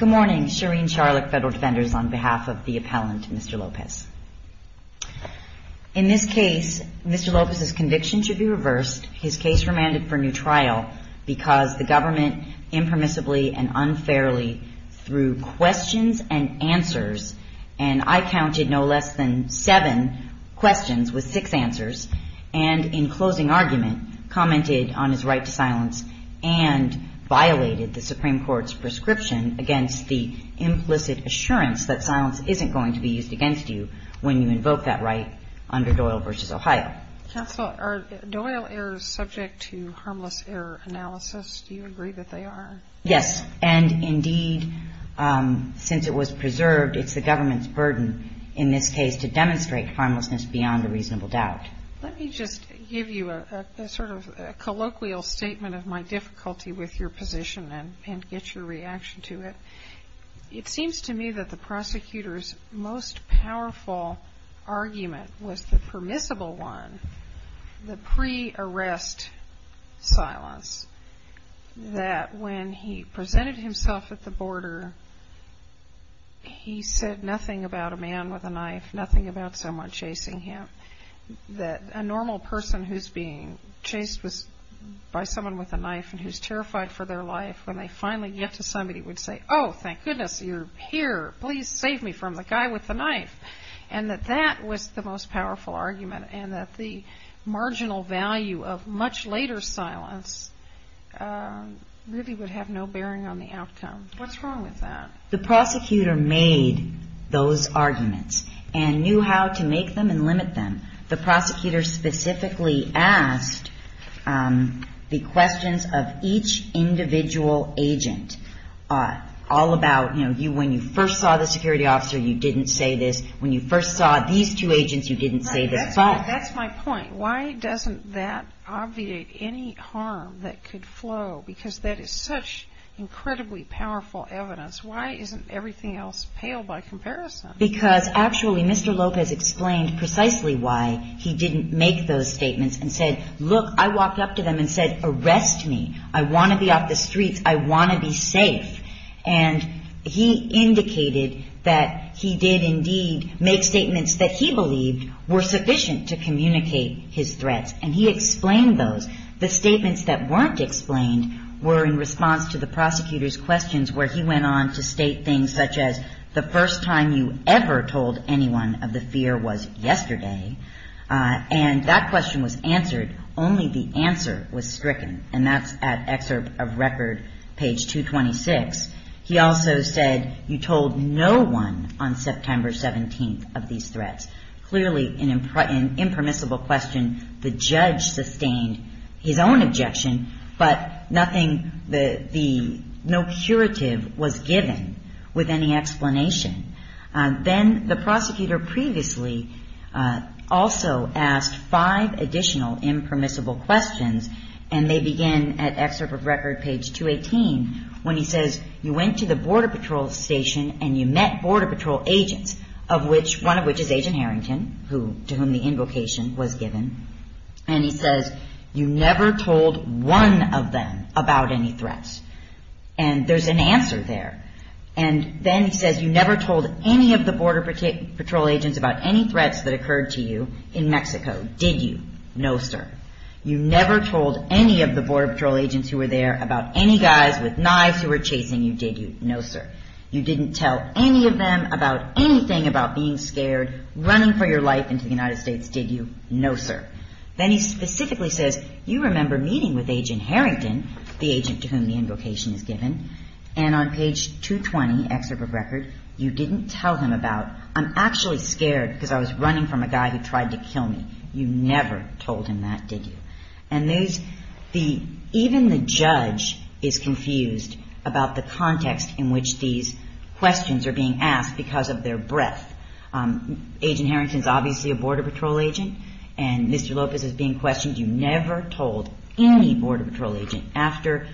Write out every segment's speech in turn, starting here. In this case, Mr. Lopez's conviction should be reversed. His case remanded for new trial because the government impermissibly and unfairly threw questions and answers, and I counted no less than seven questions with six answers, and in closing argument commented on his right to silence and on his right to appeal. The Supreme Court's prescription against the implicit assurance that silence isn't going to be used against you when you invoke that right under Doyle v. Ohio. Counsel, are Doyle errors subject to harmless error analysis? Do you agree that they are? Yes, and indeed, since it was preserved, it's the government's burden in this case to demonstrate harmlessness beyond a reasonable doubt. Let me just give you a sort of colloquial statement of my difficulty with your position and get your reaction to it. It seems to me that the prosecutor's most powerful argument was the permissible one, the pre-arrest silence, that when he presented himself at the border, he said nothing about a man with a knife, nothing about someone chasing him, that a normal person who's being chased by someone with a knife and who's terrified for their life, when they finally get to somebody, would say, oh, thank goodness you're here. Please save me from the guy with the knife, and that that was the most powerful argument, and that the marginal value of much later silence really would have no bearing on the outcome. What's wrong with that? The prosecutor made those arguments and knew how to make them and limit them. The prosecutor specifically asked the questions of each individual agent all about, you know, when you first saw the security officer, you didn't say this. When you first saw these two agents, you didn't say this. That's my point. Why doesn't that obviate any harm that could flow? Because that is such incredibly powerful evidence. Why isn't everything else pale by comparison? Because actually Mr. Lopez explained precisely why he didn't make those statements and said, look, I walked up to them and said, arrest me. I want to be off the streets. I want to be safe. And he indicated that he did indeed make statements that he believed were sufficient to communicate his threats, and he explained those. The statements that weren't explained were in response to the prosecutor's questions where he went on to state things such as, the first time you ever told anyone of the fear was yesterday, and that question was answered, only the answer was stricken. And that's at excerpt of record, page 226. He also said, you told no one on September 17th of these threats. Clearly an impermissible question. The judge sustained his own objection, but nothing, no curative was given with any explanation. Then the prosecutor previously also asked five additional impermissible questions, and they begin at excerpt of record, page 218, when he says, you went to the border patrol station and you met border patrol agents, one of which is Agent Harrington, to whom the invocation was given, and he says, you never told one of them about any threats. And there's an answer there. And then he says, you never told any of the border patrol agents about any threats that occurred to you in Mexico, did you? No, sir. You never told any of the border patrol agents who were there about any guys with knives who were chasing you, did you? No, sir. You didn't tell any of them about anything about being scared, running for your life into the United States, did you? No, sir. Then he specifically says, you remember meeting with Agent Harrington, the agent to whom the invocation is given, and on page 220, excerpt of record, you didn't tell him about, I'm actually scared because I was running from a guy who tried to kill me. You never told him that, did you? And these, even the judge is confused about the context in which these questions are being asked because of their breadth. Agent Harrington is obviously a border patrol agent, and Mr. Lopez is being questioned. You never told any border patrol agent after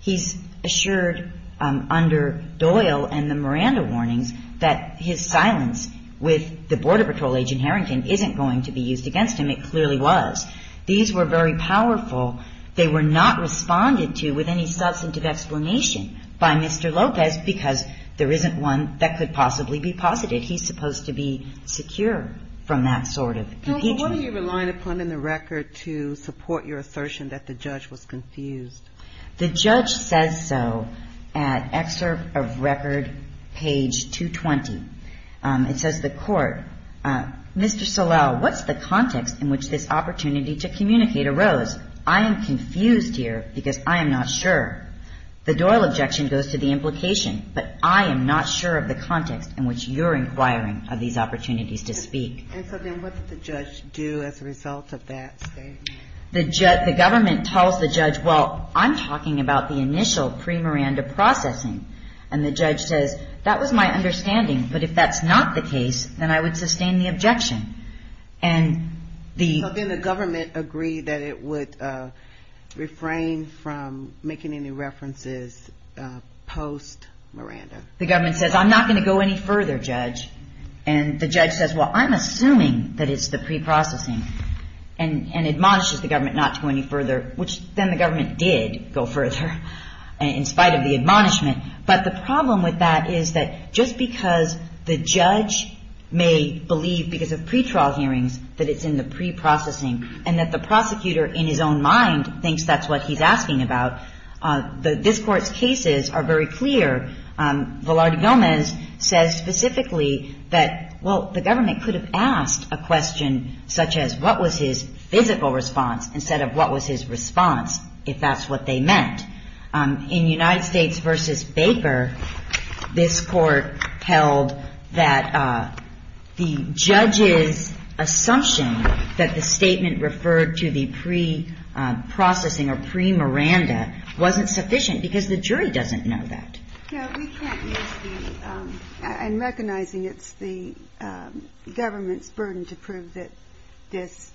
he's assured under Doyle and the Miranda warnings that his silence with the border patrol agent Harrington isn't going to be used against him. It clearly was. These were very powerful. They were not responded to with any substantive explanation by Mr. Lopez because there isn't one that could possibly be posited. He's supposed to be secure from that sort of engagement. Now, what are you relying upon in the record to support your assertion that the judge was confused? The judge says so at excerpt of record, page 220. It says, the court, Mr. Solel, what's the context in which this opportunity to communicate arose? I am confused here because I am not sure. The Doyle objection goes to the implication, but I am not sure of the context in which you're inquiring of these opportunities to speak. And so then what did the judge do as a result of that statement? The government tells the judge, well, I'm talking about the initial pre-Miranda processing. And the judge says, that was my understanding, but if that's not the case, then I would sustain the objection. So then the government agreed that it would refrain from making any references post-Miranda? The government says, I'm not going to go any further, judge. And the judge says, well, I'm assuming that it's the pre-processing and admonishes the government not to go any further, which then the government did go further in spite of the admonishment. But the problem with that is that just because the judge may believe, because of pretrial hearings, that it's in the pre-processing and that the prosecutor in his own mind thinks that's what he's asking about, this Court's cases are very clear. Velarde Gomez says specifically that, well, the government could have asked a question such as, what was his physical response instead of what was his response, if that's what they meant. In United States v. Baker, this Court held that the judge's assumption that the statement referred to the pre-processing or pre-Miranda wasn't sufficient because the jury doesn't know that. No, we can't use the, and recognizing it's the government's burden to prove that this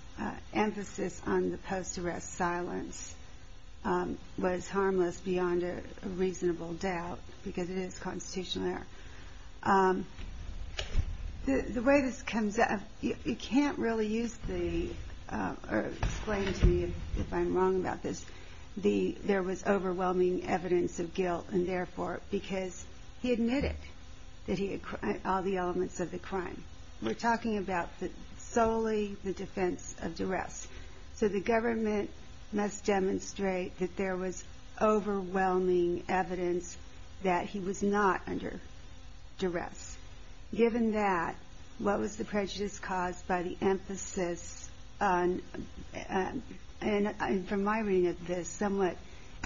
emphasis on the post-arrest silence was harmless beyond a reasonable doubt, because it is constitutional error. The way this comes up, you can't really use the, or explain to me if I'm wrong about this, there was overwhelming evidence of guilt, and therefore, because he admitted that he had, all the elements of the crime. We're talking about solely the defense of duress. So the government must demonstrate that there was overwhelming evidence that he was not under duress. Given that, what was the prejudice caused by the emphasis on, and from my reading of this, somewhat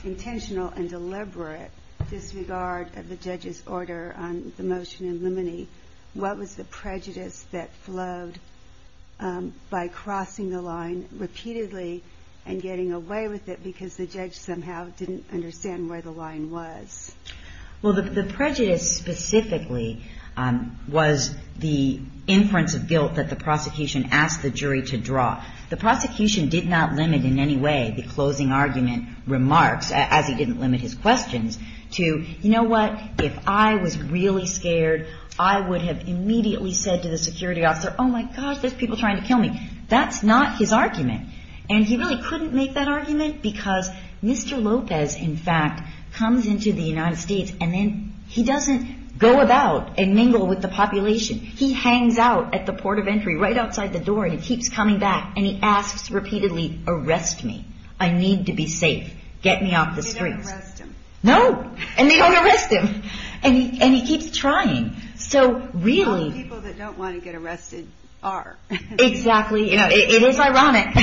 intentional and deliberate disregard of the judge's order on the motion in limine, what was the prejudice that flowed by crossing the line repeatedly and getting away with it because the judge somehow didn't understand where the line was? Well, the prejudice specifically was the inference of guilt that the prosecution asked the jury to draw. The prosecution did not limit in any way the closing argument remarks, as he didn't limit his questions, to, you know what, if I was really scared, I would have immediately said to the security officer, oh, my gosh, there's people trying to kill me. That's not his argument. And he really couldn't make that argument because Mr. Lopez, in fact, comes into the United States, and then he doesn't go about and mingle with the population. He hangs out at the port of entry, right outside the door, and he keeps coming back, and he asks repeatedly, arrest me. I need to be safe. Get me off the streets. They don't arrest him. No. And they don't arrest him. And he keeps trying. So really. People that don't want to get arrested are. Exactly. You know, it is ironic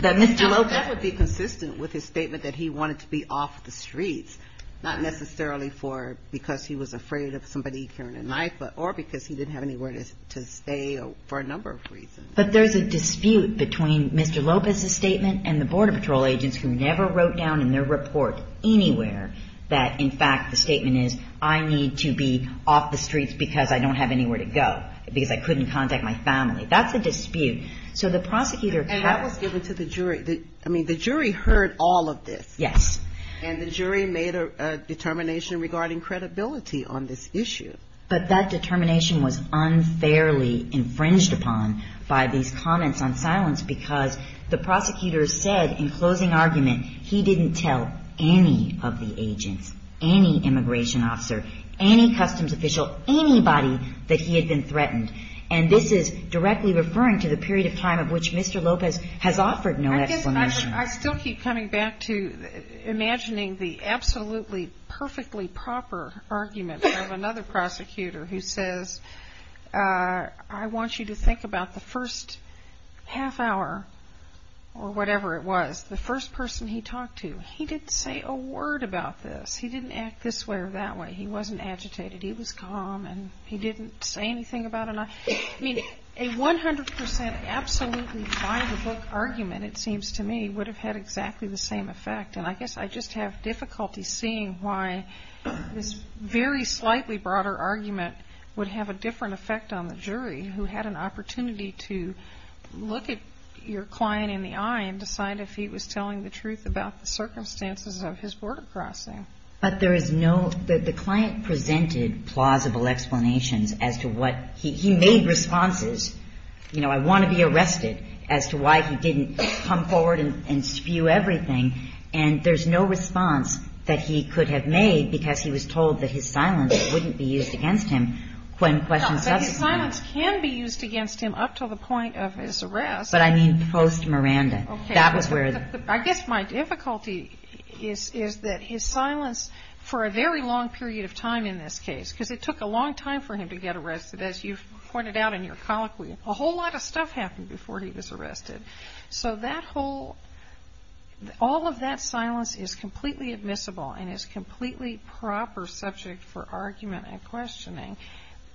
that Mr. Lopez. That would be consistent with his statement that he wanted to be off the streets, not necessarily for because he was afraid of somebody killing a knife, but or because he didn't have anywhere to stay for a number of reasons. But there's a dispute between Mr. Lopez's statement and the Border Patrol agents who never wrote down in their report anywhere that, in fact, the statement is I need to be off the streets because I don't have anywhere to go, because I couldn't contact my family. That's a dispute. So the prosecutor. And that was given to the jury. I mean, the jury heard all of this. Yes. And the jury made a determination regarding credibility on this issue. But that determination was unfairly infringed upon by these comments on silence because the prosecutor said in closing argument he didn't tell any of the agents, any immigration officer, any customs official, anybody that he had been threatened. And this is directly referring to the period of time of which Mr. Lopez has offered no explanation. I still keep coming back to imagining the absolutely perfectly proper argument of another prosecutor who says I want you to think about the first half hour or whatever it was, the first person he talked to. He didn't say a word about this. He didn't act this way or that way. He wasn't agitated. He was calm and he didn't say anything about it. I mean, a 100% absolutely by-the-book argument, it seems to me, would have had exactly the same effect. And I guess I just have difficulty seeing why this very slightly broader argument would have a different effect on the jury who had an opportunity to look at your client in the eye and decide if he was telling the truth about the circumstances of his border crossing. But there is no – the client presented plausible explanations as to what – he made responses, you know, I want to be arrested, as to why he didn't come forward and spew everything. And there's no response that he could have made because he was told that his silence wouldn't be used against him when questions got to him. No, but his silence can be used against him up to the point of his arrest. But I mean post-Miranda. Okay. That was where the – I guess my difficulty is that his silence for a very long period of time in this case, because it took a long time for him to get arrested. As you've pointed out in your colloquy, a whole lot of stuff happened before he was arrested. So that whole – all of that silence is completely admissible and is completely proper subject for argument and questioning.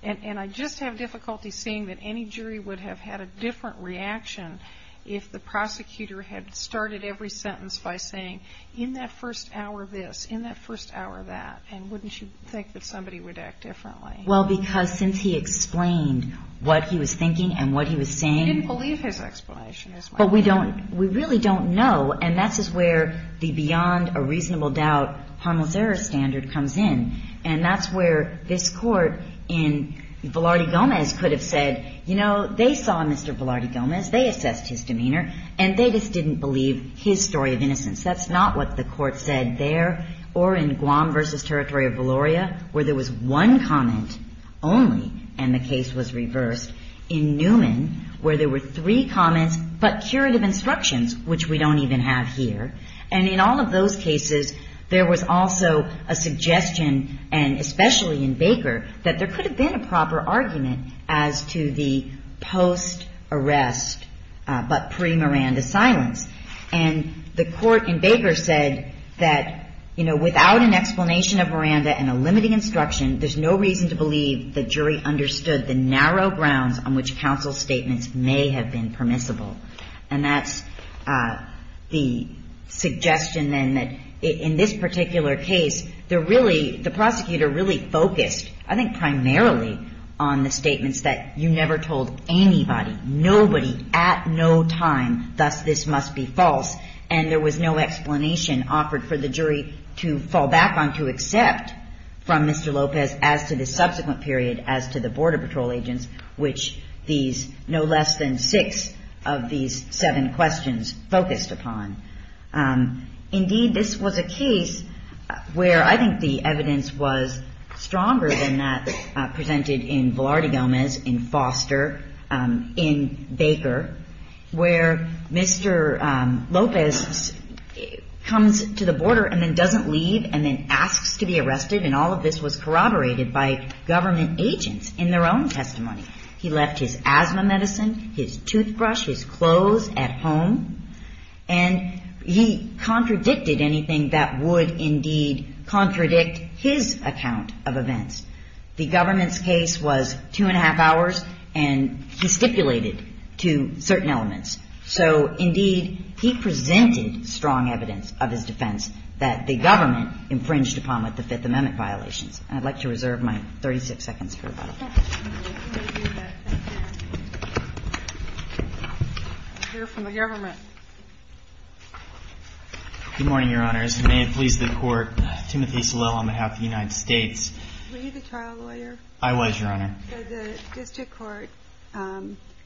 And I just have difficulty seeing that any jury would have had a different reaction if the prosecutor had started every sentence by saying, in that first hour this, in that first hour that. And wouldn't you think that somebody would act differently? Well, because since he explained what he was thinking and what he was saying – We didn't believe his explanation. But we don't – we really don't know. And that's where the beyond a reasonable doubt harmless error standard comes in. And that's where this Court in – Velarde Gomez could have said, you know, they saw Mr. Velarde Gomez, they assessed his demeanor, and they just didn't believe his story of innocence. That's not what the Court said there or in Guam v. Territory of Valoria, where there was one comment only and the case was reversed, in Newman, where there were three comments but curative instructions, which we don't even have here. And in all of those cases, there was also a suggestion, and especially in Baker, that there could have been a proper argument as to the post-arrest but pre-Miranda silence. And the Court in Baker said that, you know, without an explanation of Miranda and a limiting instruction, there's no reason to believe the jury understood the narrow grounds on which counsel statements may have been permissible. And that's the suggestion, then, that in this particular case, the prosecutor really focused, I think primarily, on the statements that you never told anybody, nobody, at no time, thus this must be false. And there was no explanation offered for the jury to fall back on, to accept from Mr. Lopez as to the subsequent period, as to the Border Patrol agents, which these no less than six of these seven questions focused upon. Indeed, this was a case where I think the evidence was stronger than that presented in Velarde Gomez, in Foster, in Baker, where Mr. Lopez comes to the border and then doesn't leave and then asks to be arrested, and all of this was corroborated by government agents in their own testimony. He left his asthma medicine, his toothbrush, his clothes at home, and he contradicted anything that would indeed contradict his account of events. The government's case was two and a half hours, and he stipulated to certain elements. So, indeed, he presented strong evidence of his defense that the government infringed upon with the Fifth Amendment violations. And I'd like to reserve my 36 seconds for rebuttal. I hear from the government. Good morning, Your Honors. May it please the Court, Timothy Soleil on behalf of the United States. Were you the trial lawyer? I was, Your Honor. So the district court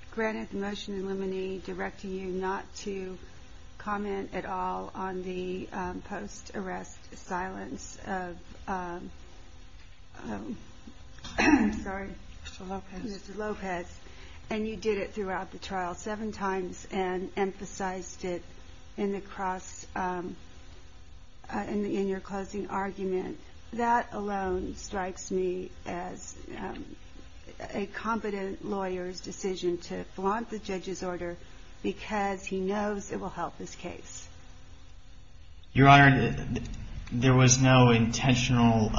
granted the motion in limine directing you not to comment at all on the post-arrest silence of Mr. Lopez, and you did it throughout the trial seven times and emphasized it in your closing argument. That alone strikes me as a competent lawyer's decision to flaunt the judge's order because he knows it will help his case. Your Honor, there was no intentional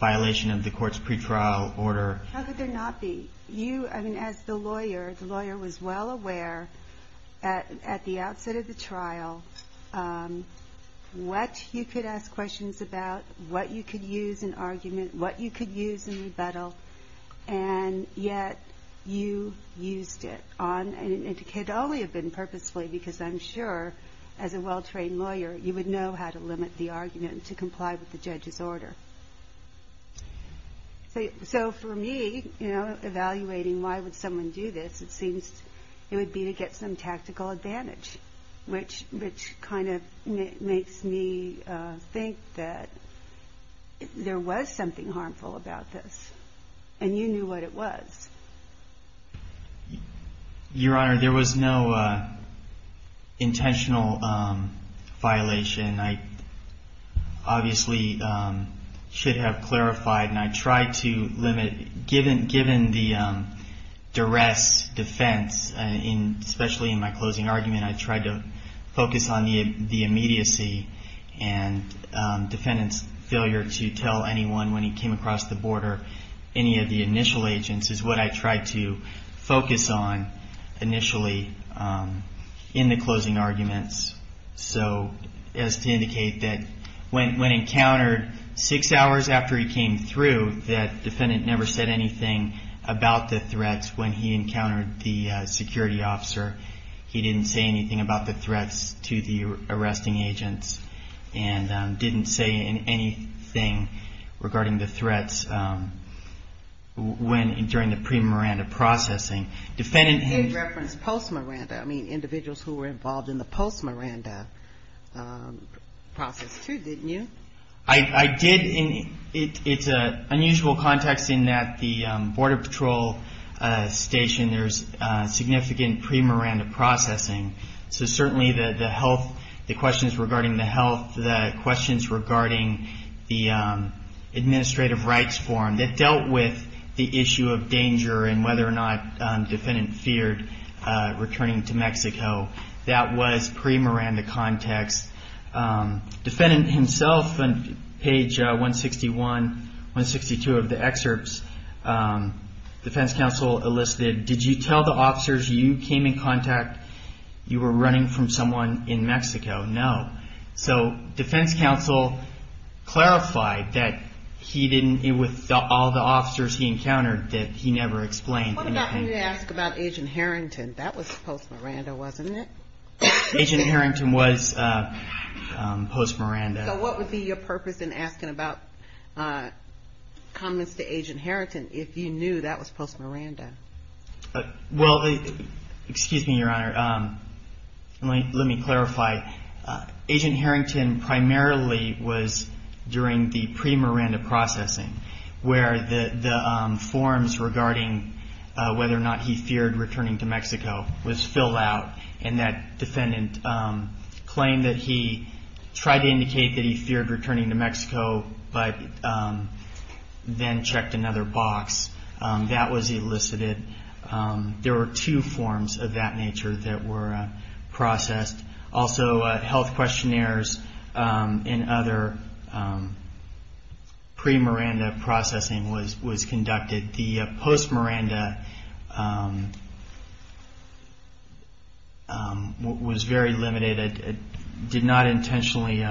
violation of the court's pretrial order. How could there not be? As the lawyer, the lawyer was well aware at the outset of the trial what you could ask questions about, what you could use in argument, what you could use in rebuttal, and yet you used it on, and it could only have been purposefully because I'm sure as a well-trained lawyer you would know how to limit the argument to comply with the judge's order. So for me, you know, evaluating why would someone do this, it seems it would be to get some tactical advantage, which kind of makes me think that there was something harmful about this, and you knew what it was. Your Honor, there was no intentional violation. I obviously should have clarified, and I tried to limit, given the duress defense, especially in my closing argument, I tried to focus on the immediacy and defendant's failure to tell anyone when he came across the border any of the initial agents is what I tried to focus on initially in the closing arguments. So as to indicate that when encountered six hours after he came through, that defendant never said anything about the threats when he encountered the security officer. He didn't say anything about the threats to the arresting agents, and didn't say anything regarding the threats during the pre-Miranda processing. You did reference post-Miranda. I mean, individuals who were involved in the post-Miranda process too, didn't you? I did, and it's an unusual context in that the Border Patrol Station, there's significant pre-Miranda processing, so certainly the health, the questions regarding the health, the questions regarding the administrative rights form that dealt with the issue of danger and whether or not the defendant feared returning to Mexico, that was pre-Miranda context. Defendant himself on page 161, 162 of the excerpts, defense counsel elicited, did you tell the officers you came in contact, you were running from someone in Mexico? No. So defense counsel clarified that he didn't, with all the officers he encountered, that he never explained anything. What about when you ask about Agent Harrington? That was post-Miranda, wasn't it? Agent Harrington was post-Miranda. So what would be your purpose in asking about comments to Agent Harrington if you knew that was post-Miranda? Well, excuse me, Your Honor, let me clarify. Agent Harrington primarily was during the pre-Miranda processing where the forms regarding whether or not he feared returning to Mexico was filled out, and that defendant claimed that he tried to indicate that he feared returning to Mexico but then checked another box. That was elicited. There were two forms of that nature that were processed. Also health questionnaires and other pre-Miranda processing was conducted. The post-Miranda was very limited. It did not intentionally,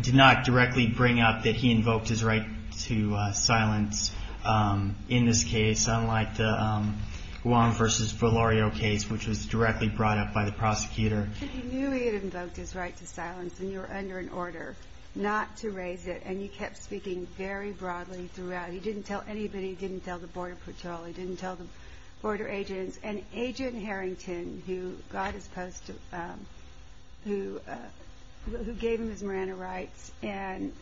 did not directly bring up that he invoked his right to silence in this case, unlike the Wong v. Valerio case, which was directly brought up by the prosecutor. But you knew he had invoked his right to silence, and you were under an order not to raise it, and you kept speaking very broadly throughout. He didn't tell anybody. He didn't tell the border patrol. He didn't tell the border agents. And Agent Harrington, who gave him his Miranda rights, and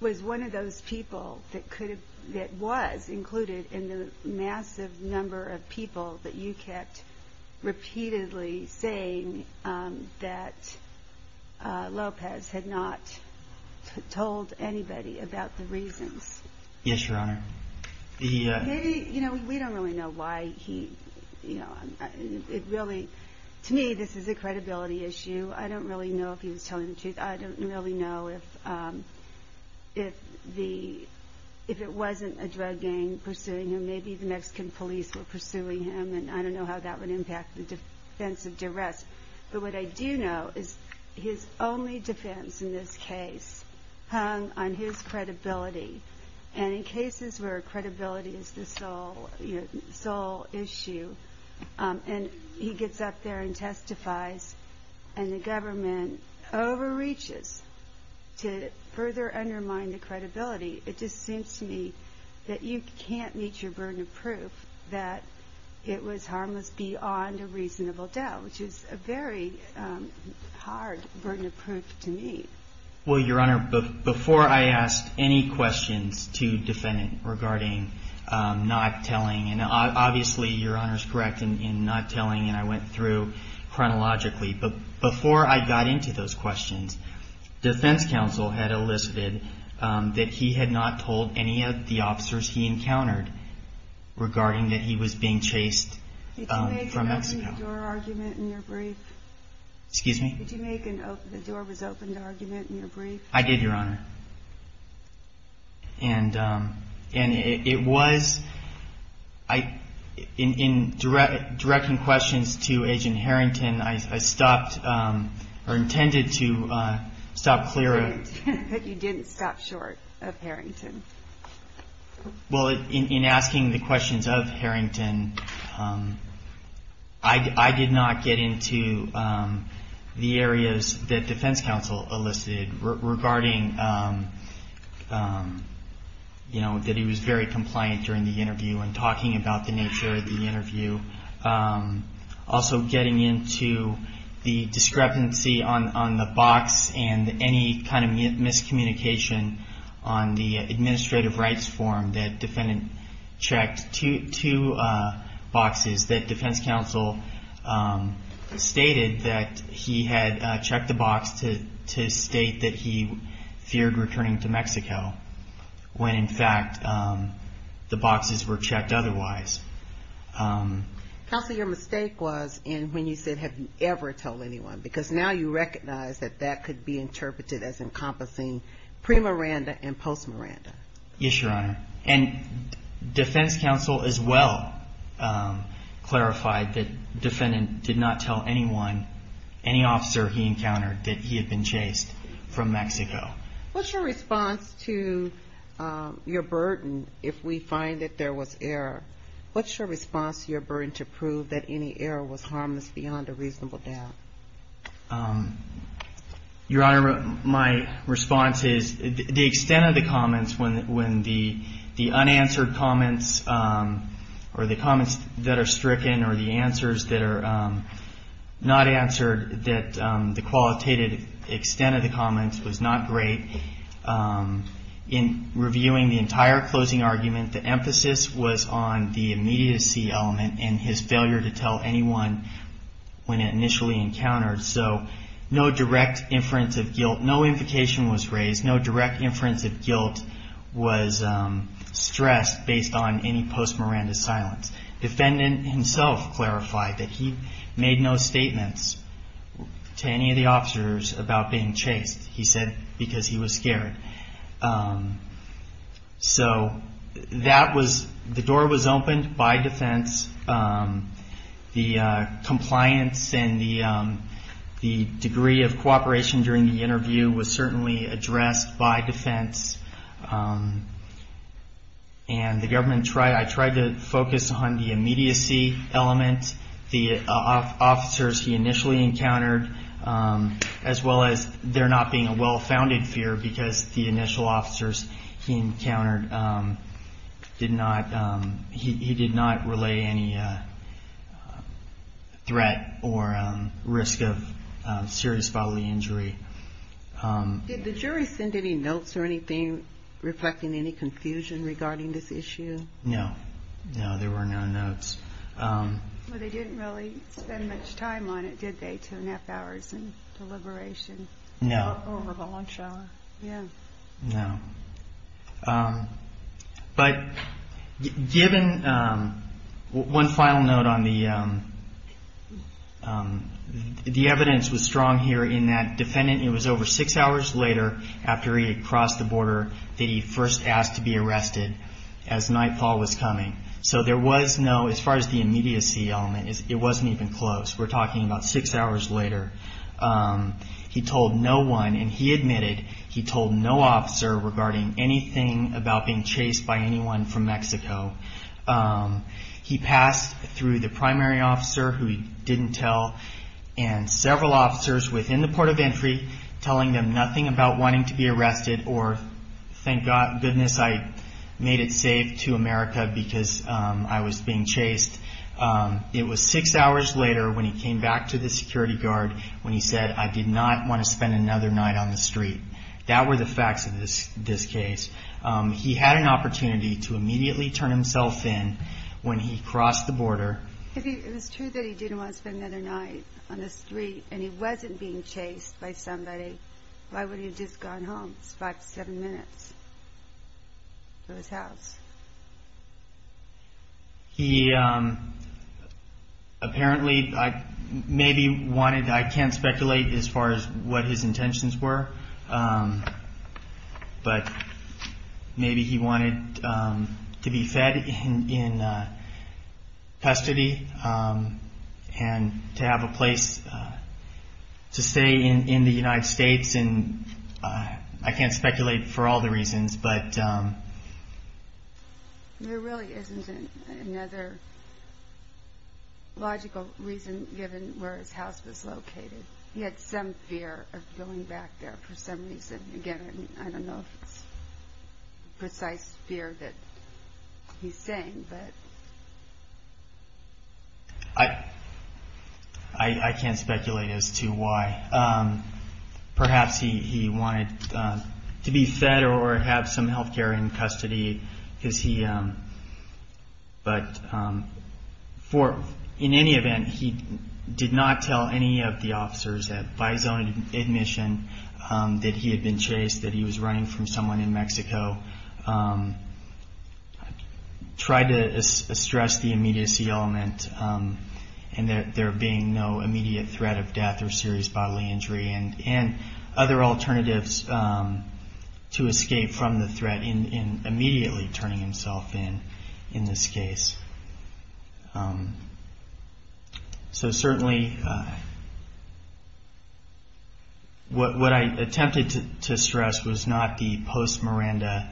was one of those people that was included in the massive number of people that you kept repeatedly saying that Lopez had not told anybody about the reasons. Yes, Your Honor. Maybe, you know, we don't really know why he, you know, it really, to me this is a credibility issue. I don't really know if he was telling the truth. I don't really know if it wasn't a drug gang pursuing him. Maybe the Mexican police were pursuing him, and I don't know how that would impact the defense of duress. But what I do know is his only defense in this case hung on his credibility. And in cases where credibility is the sole issue, and he gets up there and testifies, and the government overreaches to further undermine the credibility, it just seems to me that you can't meet your burden of proof that it was harmless beyond a reasonable doubt, which is a very hard burden of proof to meet. Well, Your Honor, before I ask any questions to defendant regarding not telling, and obviously Your Honor is correct in not telling, and I went through chronologically, but before I got into those questions, defense counsel had elicited that he had not told any of the officers he encountered regarding that he was being chased from Mexico. Did you make an open-door argument in your brief? Excuse me? Did you make an open-door argument in your brief? I did, Your Honor. And it was, in directing questions to Agent Harrington, I stopped, or intended to stop clear of. But you didn't stop short of Harrington. Well, in asking the questions of Harrington, I did not get into the areas that defense counsel elicited regarding that he was very compliant during the interview and talking about the nature of the interview, also getting into the discrepancy on the box and any kind of miscommunication on the administrative rights form that defendant checked two boxes that defense counsel stated that he had checked the box to state that he feared returning to Mexico, when in fact the boxes were checked otherwise. Counsel, your mistake was in when you said, have you ever told anyone? Because now you recognize that that could be interpreted as encompassing pre-Miranda and post-Miranda. Yes, Your Honor. And defense counsel as well clarified that defendant did not tell anyone, any officer he encountered, that he had been chased from Mexico. What's your response to your burden if we find that there was error? What's your response to your burden to prove that any error was harmless beyond a reasonable doubt? Your Honor, my response is the extent of the comments, when the unanswered comments or the comments that are stricken or the answers that are not answered, that the qualitative extent of the comments was not great. In reviewing the entire closing argument, the emphasis was on the immediacy element and his failure to tell anyone when it initially encountered. So no direct inference of guilt, no invocation was raised, no direct inference of guilt was stressed based on any post-Miranda silence. Defendant himself clarified that he made no statements to any of the officers about being chased. He said because he was scared. So that was, the door was opened by defense. The compliance and the degree of cooperation during the interview was certainly addressed by defense. And the government tried, I tried to focus on the immediacy element. The officers he initially encountered, as well as there not being a well-founded fear because the initial officers he encountered did not, he did not relay any threat or risk of serious bodily injury. Did the jury send any notes or anything reflecting any confusion regarding this issue? No, no, there were no notes. Well, they didn't really spend much time on it, did they, two and a half hours in deliberation? No. Over the lunch hour? Yeah. No. But given, one final note on the, the evidence was strong here in that defendant, it was over six hours later after he had crossed the border that he first asked to be arrested as nightfall was coming. So there was no, as far as the immediacy element, it wasn't even close. We're talking about six hours later. He told no one, and he admitted he told no officer regarding anything about being chased by anyone from Mexico. He passed through the primary officer, who he didn't tell, and several officers within the port of entry telling them nothing about wanting to be arrested or thank goodness I made it safe to America because I was being chased. It was six hours later when he came back to the security guard when he said, I did not want to spend another night on the street. That were the facts of this case. He had an opportunity to immediately turn himself in when he crossed the border. If it was true that he didn't want to spend another night on the street and he wasn't being chased by somebody, why would he have just gone home? It's five to seven minutes to his house. He apparently maybe wanted, I can't speculate as far as what his intentions were, but maybe he wanted to be fed in custody and to have a place to stay in the United States. I can't speculate for all the reasons. There really isn't another logical reason given where his house was located. He had some fear of going back there for some reason. Again, I don't know if it's precise fear that he's saying. I can't speculate as to why. Perhaps he wanted to be fed or have some health care in custody. In any event, he did not tell any of the officers that by his own admission that he had been chased, that he was running from someone in Mexico. Tried to stress the immediacy element and there being no immediate threat of death or serious bodily injury and other alternatives to escape from the threat in immediately turning himself in, in this case. Certainly, what I attempted to stress was not the post-Miranda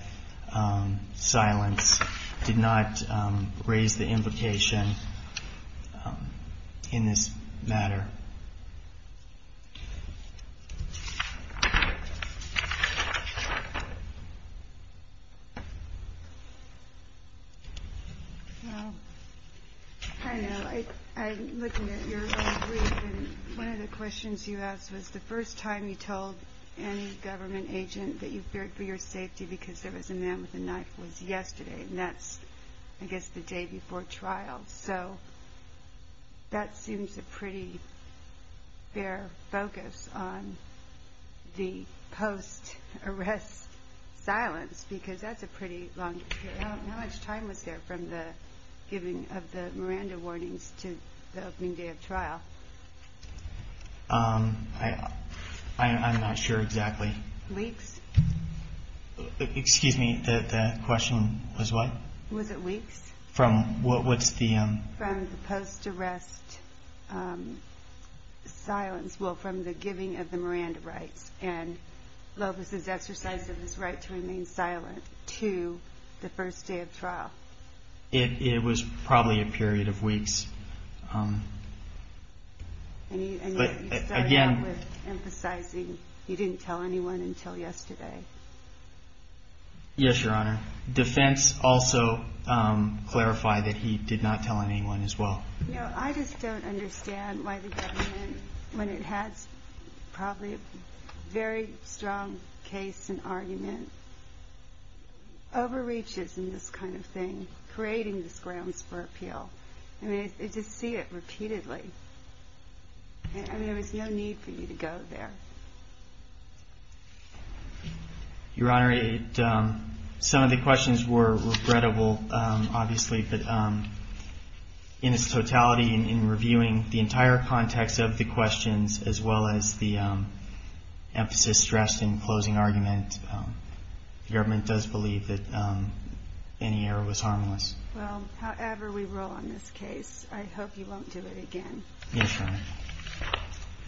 silence. Did not raise the implication in this matter. I'm looking at your brief. One of the questions you asked was the first time you told any government agent that you feared for your safety because there was a man with a knife was yesterday. And that's, I guess, the day before trial. So that seems a pretty fair focus on the post-arrest silence because that's a pretty long period. How much time was there from the giving of the Miranda warnings to the opening day of trial? I'm not sure exactly. Weeks? Excuse me. The question was what? Was it weeks? From what's the... From the post-arrest silence, well, from the giving of the Miranda rights and Lopez's exercise of his right to remain silent to the first day of trial. It was probably a period of weeks. And you started out with emphasizing he didn't tell anyone until yesterday. Yes, Your Honor. Defense also clarified that he did not tell anyone as well. No, I just don't understand why the government, when it has probably a very strong case and argument, overreaches in this kind of thing, creating this grounds for appeal. I mean, I just see it repeatedly. I mean, there was no need for you to go there. Your Honor, some of the questions were regrettable, obviously, but in its totality in reviewing the entire context of the questions, as well as the emphasis stressed in closing argument, the government does believe that any error was harmless. Well, however we roll on this case, I hope you won't do it again. Yes, Your Honor.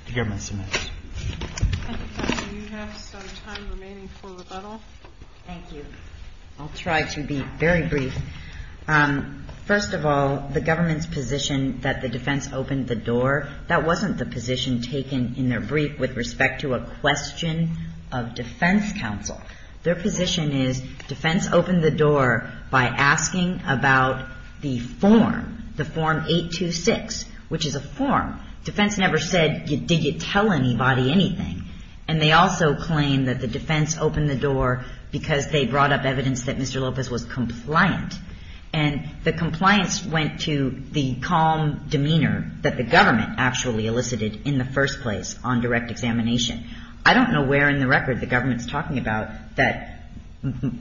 The government submits. Do you have some time remaining for rebuttal? Thank you. I'll try to be very brief. First of all, the government's position that the defense opened the door, that wasn't the position taken in their brief with respect to a question of defense counsel. Their position is defense opened the door by asking about the form, the Form 826, which is a form. Defense never said, did you tell anybody anything? And they also claim that the defense opened the door because they brought up evidence that Mr. Lopez was compliant. And the compliance went to the calm demeanor that the government actually elicited in the first place on direct examination. I don't know where in the record the government's talking about that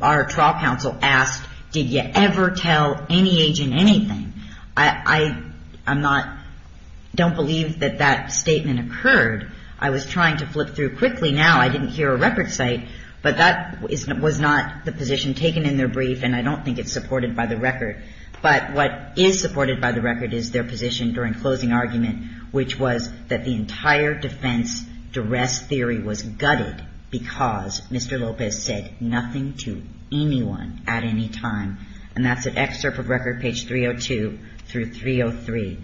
our trial counsel asked, did you ever tell any agent anything? I'm not – don't believe that that statement occurred. I was trying to flip through quickly now. I didn't hear a record cite, but that was not the position taken in their brief, and I don't think it's supported by the record. But what is supported by the record is their position during closing argument, which was that the entire defense duress theory was gutted because Mr. Lopez said nothing to anyone at any time. And that's an excerpt from record page 302 through 303.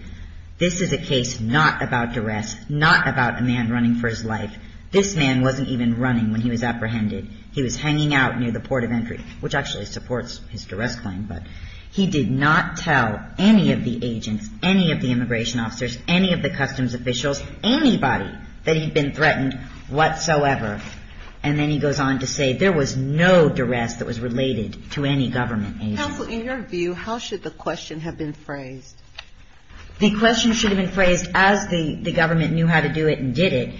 This is a case not about duress, not about a man running for his life. This man wasn't even running when he was apprehended. He was hanging out near the port of entry, which actually supports his duress claim. But he did not tell any of the agents, any of the immigration officers, any of the customs officials, anybody that he'd been threatened whatsoever. And then he goes on to say there was no duress that was related to any government agent. Counsel, in your view, how should the question have been phrased? The question should have been phrased as the government knew how to do it and did it.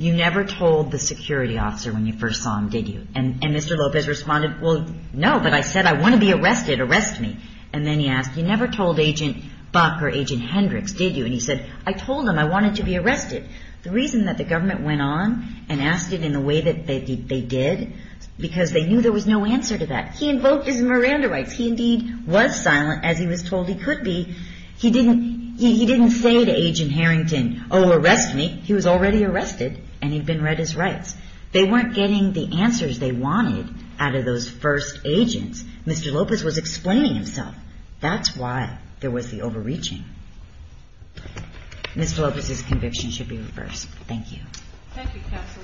You never told the security officer when you first saw him, did you? And Mr. Lopez responded, well, no, but I said I want to be arrested. Arrest me. And then he asked, you never told Agent Buck or Agent Hendricks, did you? And he said, I told them I wanted to be arrested. The reason that the government went on and asked it in the way that they did, because they knew there was no answer to that. He invoked his Miranda rights. He indeed was silent as he was told he could be. He didn't say to Agent Harrington, oh, arrest me. He was already arrested and he'd been read his rights. They weren't getting the answers they wanted out of those first agents. Mr. Lopez was explaining himself. That's why there was the overreaching. Mr. Lopez's conviction should be reversed. Thank you. Thank you, Counsel.